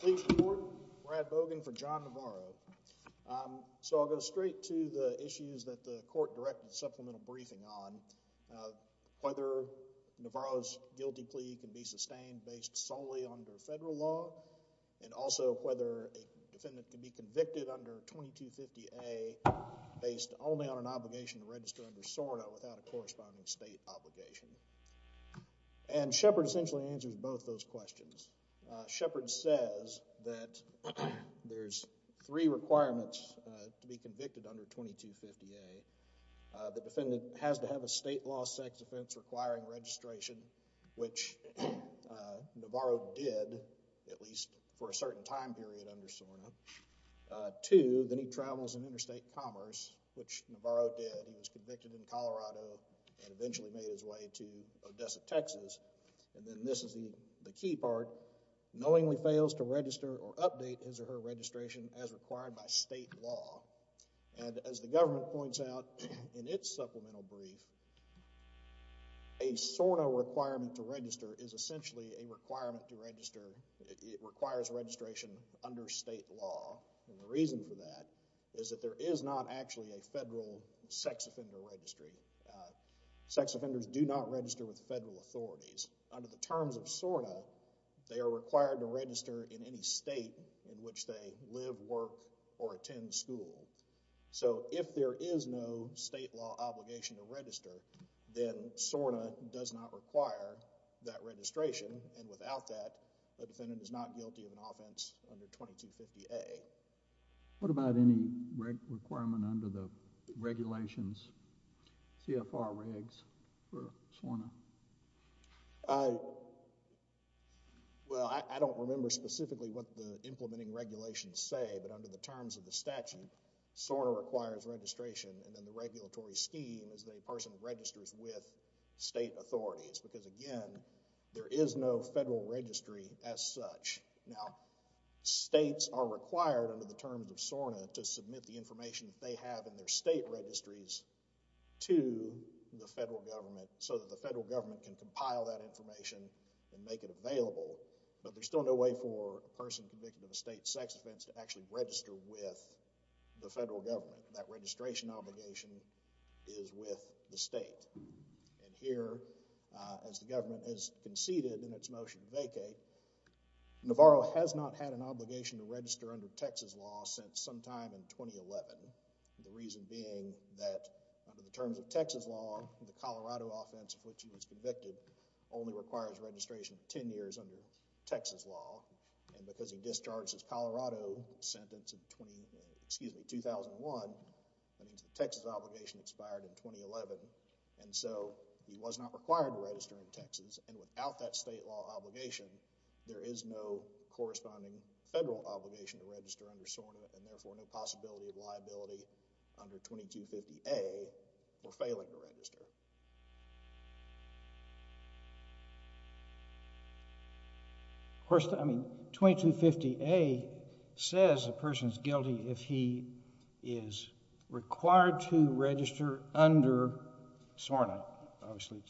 Please report. Brad Bogan for John Navarro. So I'll go straight to the issues that the court directed the supplemental briefing on, whether Navarro's guilty plea can be sustained based solely under federal law, and also whether a defendant can be convicted under 2250A based only on an obligation to register under SORNA without a corresponding state obligation. And Shepard essentially answers both those questions. Shepard says that there's three requirements to be convicted under 2250A. The defendant has to have a state law sex offense requiring registration, which Navarro did, at least for a certain time period under 2250A. Number two, that he travels in interstate commerce, which Navarro did. He was convicted in Colorado and eventually made his way to Odessa, Texas. And then this is the key part, knowingly fails to register or update his or her registration as required by state law. And as the government points out in its supplemental brief, a SORNA requirement to register is essentially a requirement to register. It requires registration under state law. And the reason for that is that there is not actually a federal sex offender registry. Sex offenders do not register with federal authorities. Under the terms of SORNA, they are required to register in any state in which they live, work, or attend school. So if there is no state law obligation to register, then SORNA does not require that registration, and without that, the defendant is not guilty of an offense under 2250A. What about any requirement under the regulations, CFR regs for SORNA? Well, I don't remember specifically what the implementing regulations say, but under the terms of the statute, SORNA requires registration, and then the regulatory scheme is that a person registers with state authorities, because again, there is no federal registry as such. Now, states are required under the terms of SORNA to submit the information that they have in their state registries to the federal government so that the federal government can compile that information and make it available, but there's still no way for a person convicted of a state sex offense to actually register with the federal government. That registration obligation is with the state, and here, as the government has conceded in its motion to vacate, Navarro has not had an obligation to register under Texas law since sometime in 2011, the reason being that under the terms of Texas law, the Colorado offense for which he was convicted only requires registration of ten years under Texas law, and because he was being discharged his Colorado sentence in 2001, that means the Texas obligation expired in 2011, and so he was not required to register in Texas, and without that state law obligation, there is no corresponding federal obligation to register under SORNA, and therefore, no possibility of liability under 2250A for failing to register. Of course, I mean, 2250A says a person is guilty if he is required to register under SORNA, obviously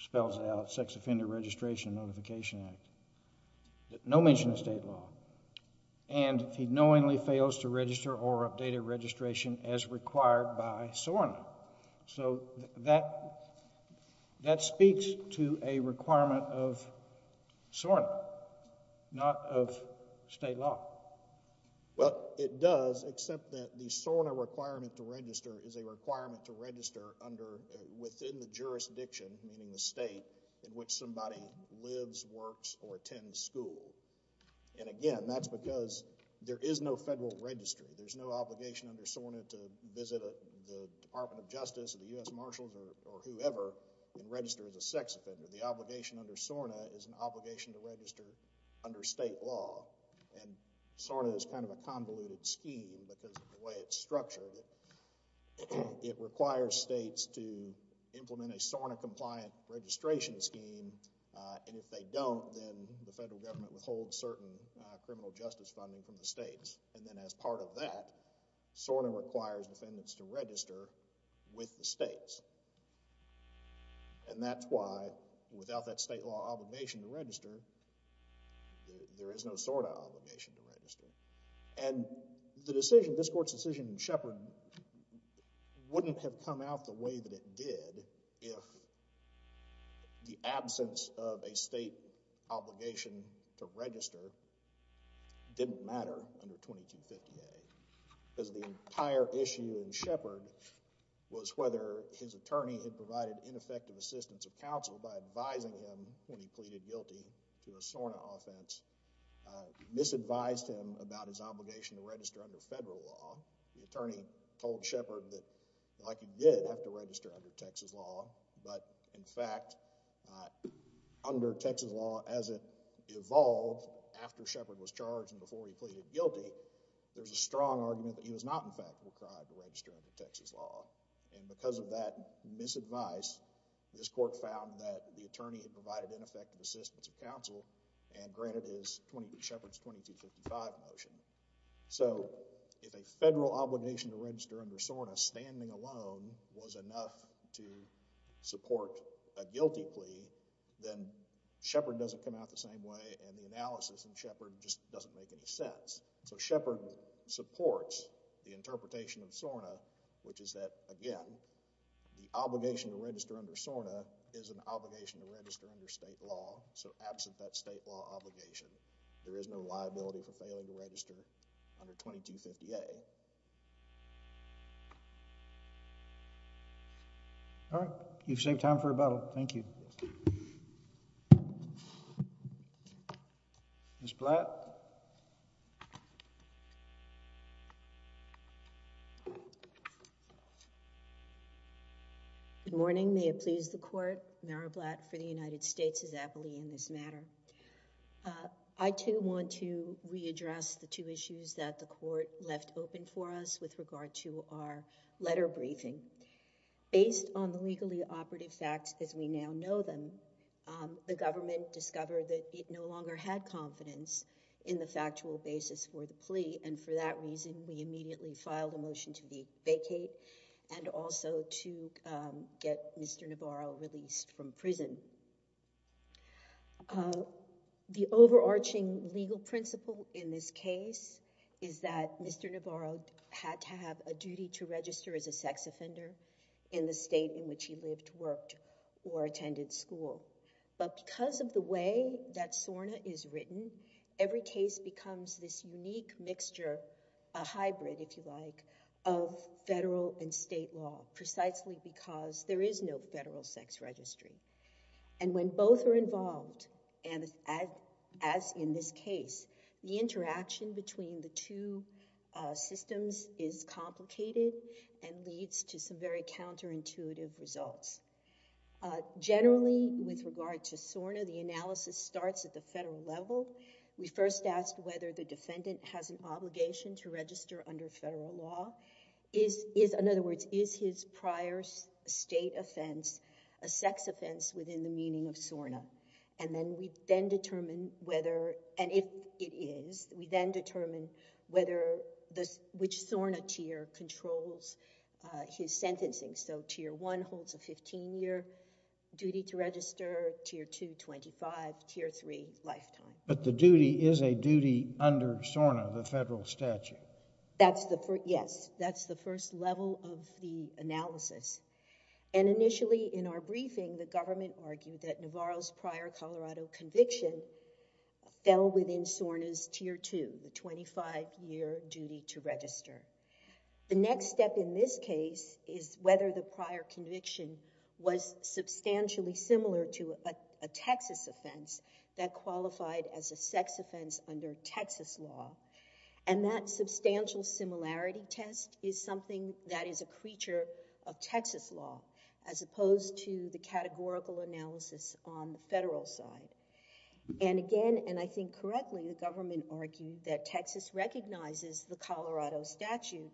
spells it out, Sex Offender Registration Notification Act, no mention of state law, and if he knowingly fails to register or update a registration as required by SORNA, so that, that speaks to a requirement of SORNA, not of state law. Well, it does, except that the SORNA requirement to register is a requirement to register under, within the jurisdiction, meaning the state in which somebody lives, works, or attends school, and again, that's because there is no federal registry. There's no obligation under SORNA to visit the Department of Justice or the U.S. Marshals or whoever and register as a sex offender. The obligation under SORNA is an obligation to register under state law, and SORNA is kind of a convoluted scheme because of the way it's structured. It requires states to implement a SORNA-compliant registration scheme, and if they don't, then the federal government withholds certain criminal justice funding from the states, and then as part of that, SORNA requires defendants to register with the states, and that's why without that state law obligation to register, there is no SORNA obligation to register, and the decision, this Court's decision in Shepard, wouldn't have come out the way that it did if the absence of a state obligation to register didn't matter under 2250A because the entire issue in Shepard was whether his attorney had provided ineffective assistance of counsel by advising him when he pleaded guilty to a SORNA offense, misadvised him about his obligation to register under federal law. The attorney told Shepard that like he did have to register under Texas law, but in fact under Texas law as it evolved after Shepard was charged and before he pleaded guilty, there's a strong argument that he was not in fact required to register under Texas law, and because of that misadvice, this Court found that the attorney had provided ineffective assistance of counsel and granted Shepard's 2255 motion. So if a federal obligation to register under SORNA standing alone was enough to support a guilty plea, then Shepard doesn't come out the same way and the analysis in Shepard just doesn't make any sense. So Shepard supports the interpretation of SORNA, which is that again, the obligation to register under SORNA is an obligation to register under state law, so absent that state law obligation, there is no liability for failing to register under 2250A. All right. You've saved time for rebuttal. Thank you. Ms. Blatt? Good morning. May it please the Court. Mary Blatt for the United States is aptly in this matter. I, too, want to readdress the two issues that the Court left open for us with regard to our letter briefing. Based on the legally operative facts as we now know them, the government discovered that it no longer had confidence in the factual basis for the plea, and for that reason, we The overarching legal principle in this case is that Mr. Navarro had to have a duty to register as a sex offender in the state in which he lived, worked, or attended school. But because of the way that SORNA is written, every case becomes this unique mixture, a hybrid, if you like, of federal and state law, precisely because there is no federal sex registry. And when both are involved, as in this case, the interaction between the two systems is complicated and leads to some very counterintuitive results. Generally, with regard to SORNA, the analysis starts at the federal level. We first asked whether the defendant has an obligation to register under federal law. In other words, is his prior state offense a sex offense within the meaning of SORNA? And then we then determine whether, and if it is, we then determine which SORNA tier controls his sentencing. So Tier 1 holds a 15-year duty to register, Tier 2, 25, Tier 3, lifetime. But the duty is a duty under SORNA, the federal statute. Yes, that's the first level of the analysis. And initially, in our briefing, the government argued that Navarro's prior Colorado conviction fell within SORNA's Tier 2, the 25-year duty to register. The next step in this case is whether the prior conviction was substantially similar to a Texas offense that qualified as a sex offense under Texas law. And that substantial similarity test is something that is a creature of Texas law as opposed to the categorical analysis on the federal side. And again, and I think correctly, the government argued that Texas recognizes the Colorado statute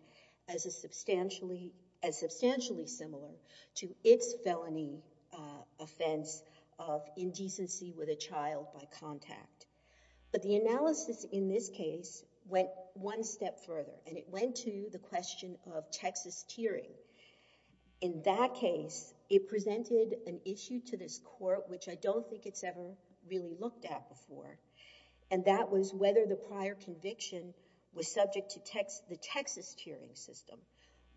as substantially similar to its felony offense of indecency with a child by contact. But the analysis in this case went one step further. And it went to the question of Texas tiering. In that case, it presented an issue to this court, which I don't think it's ever really looked at before, and that was whether the prior conviction was subject to the Texas tiering system.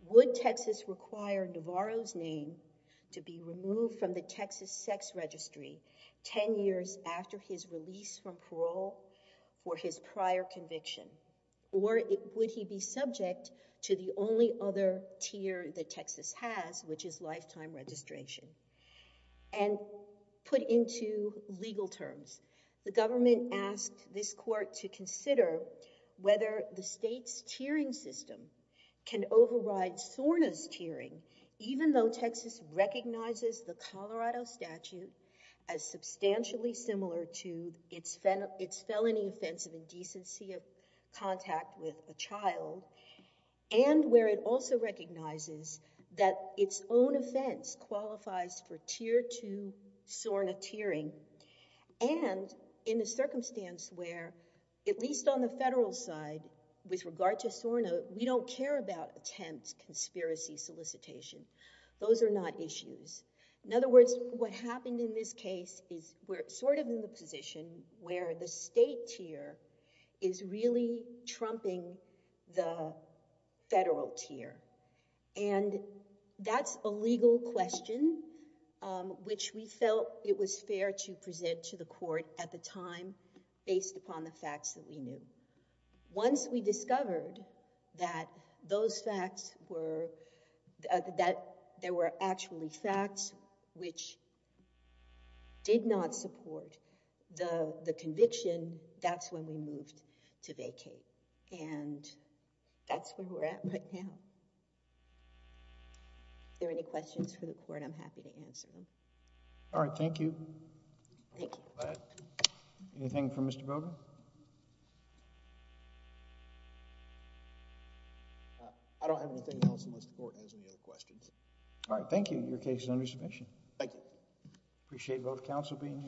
Would Texas require Navarro's name to be removed from the Texas sex registry 10 years after his release from parole for his prior conviction? Or would he be subject to the only other tier that Texas has, which is lifetime registration? And put into legal terms, the government asked this court to consider whether the state's tiering system can override SORNA's tiering, even though Texas recognizes the Colorado statute as substantially similar to its felony offense of indecency of contact with a child, and where it also recognizes that its own offense qualifies for tier two SORNA tiering. And in a circumstance where, at least on the federal side, with regard to SORNA, we don't care about attempts, conspiracy, solicitation. Those are not issues. In other words, what happened in this case is we're sort of in the position where the state tier is really trumping the federal tier. And that's a legal question, which we felt it was fair to present to the court at the time, based upon the facts that we knew. Once we discovered that there were actually facts which did not support the conviction, that's when we moved to vacate. And that's where we're at right now. If there are any questions for the court, I'm happy to answer them. All right. Thank you. Thank you. Anything for Mr. Boger? I don't have anything else unless the court has any other questions. All right. Thank you. Your case is under submission. Thank you. Appreciate both counsel being here.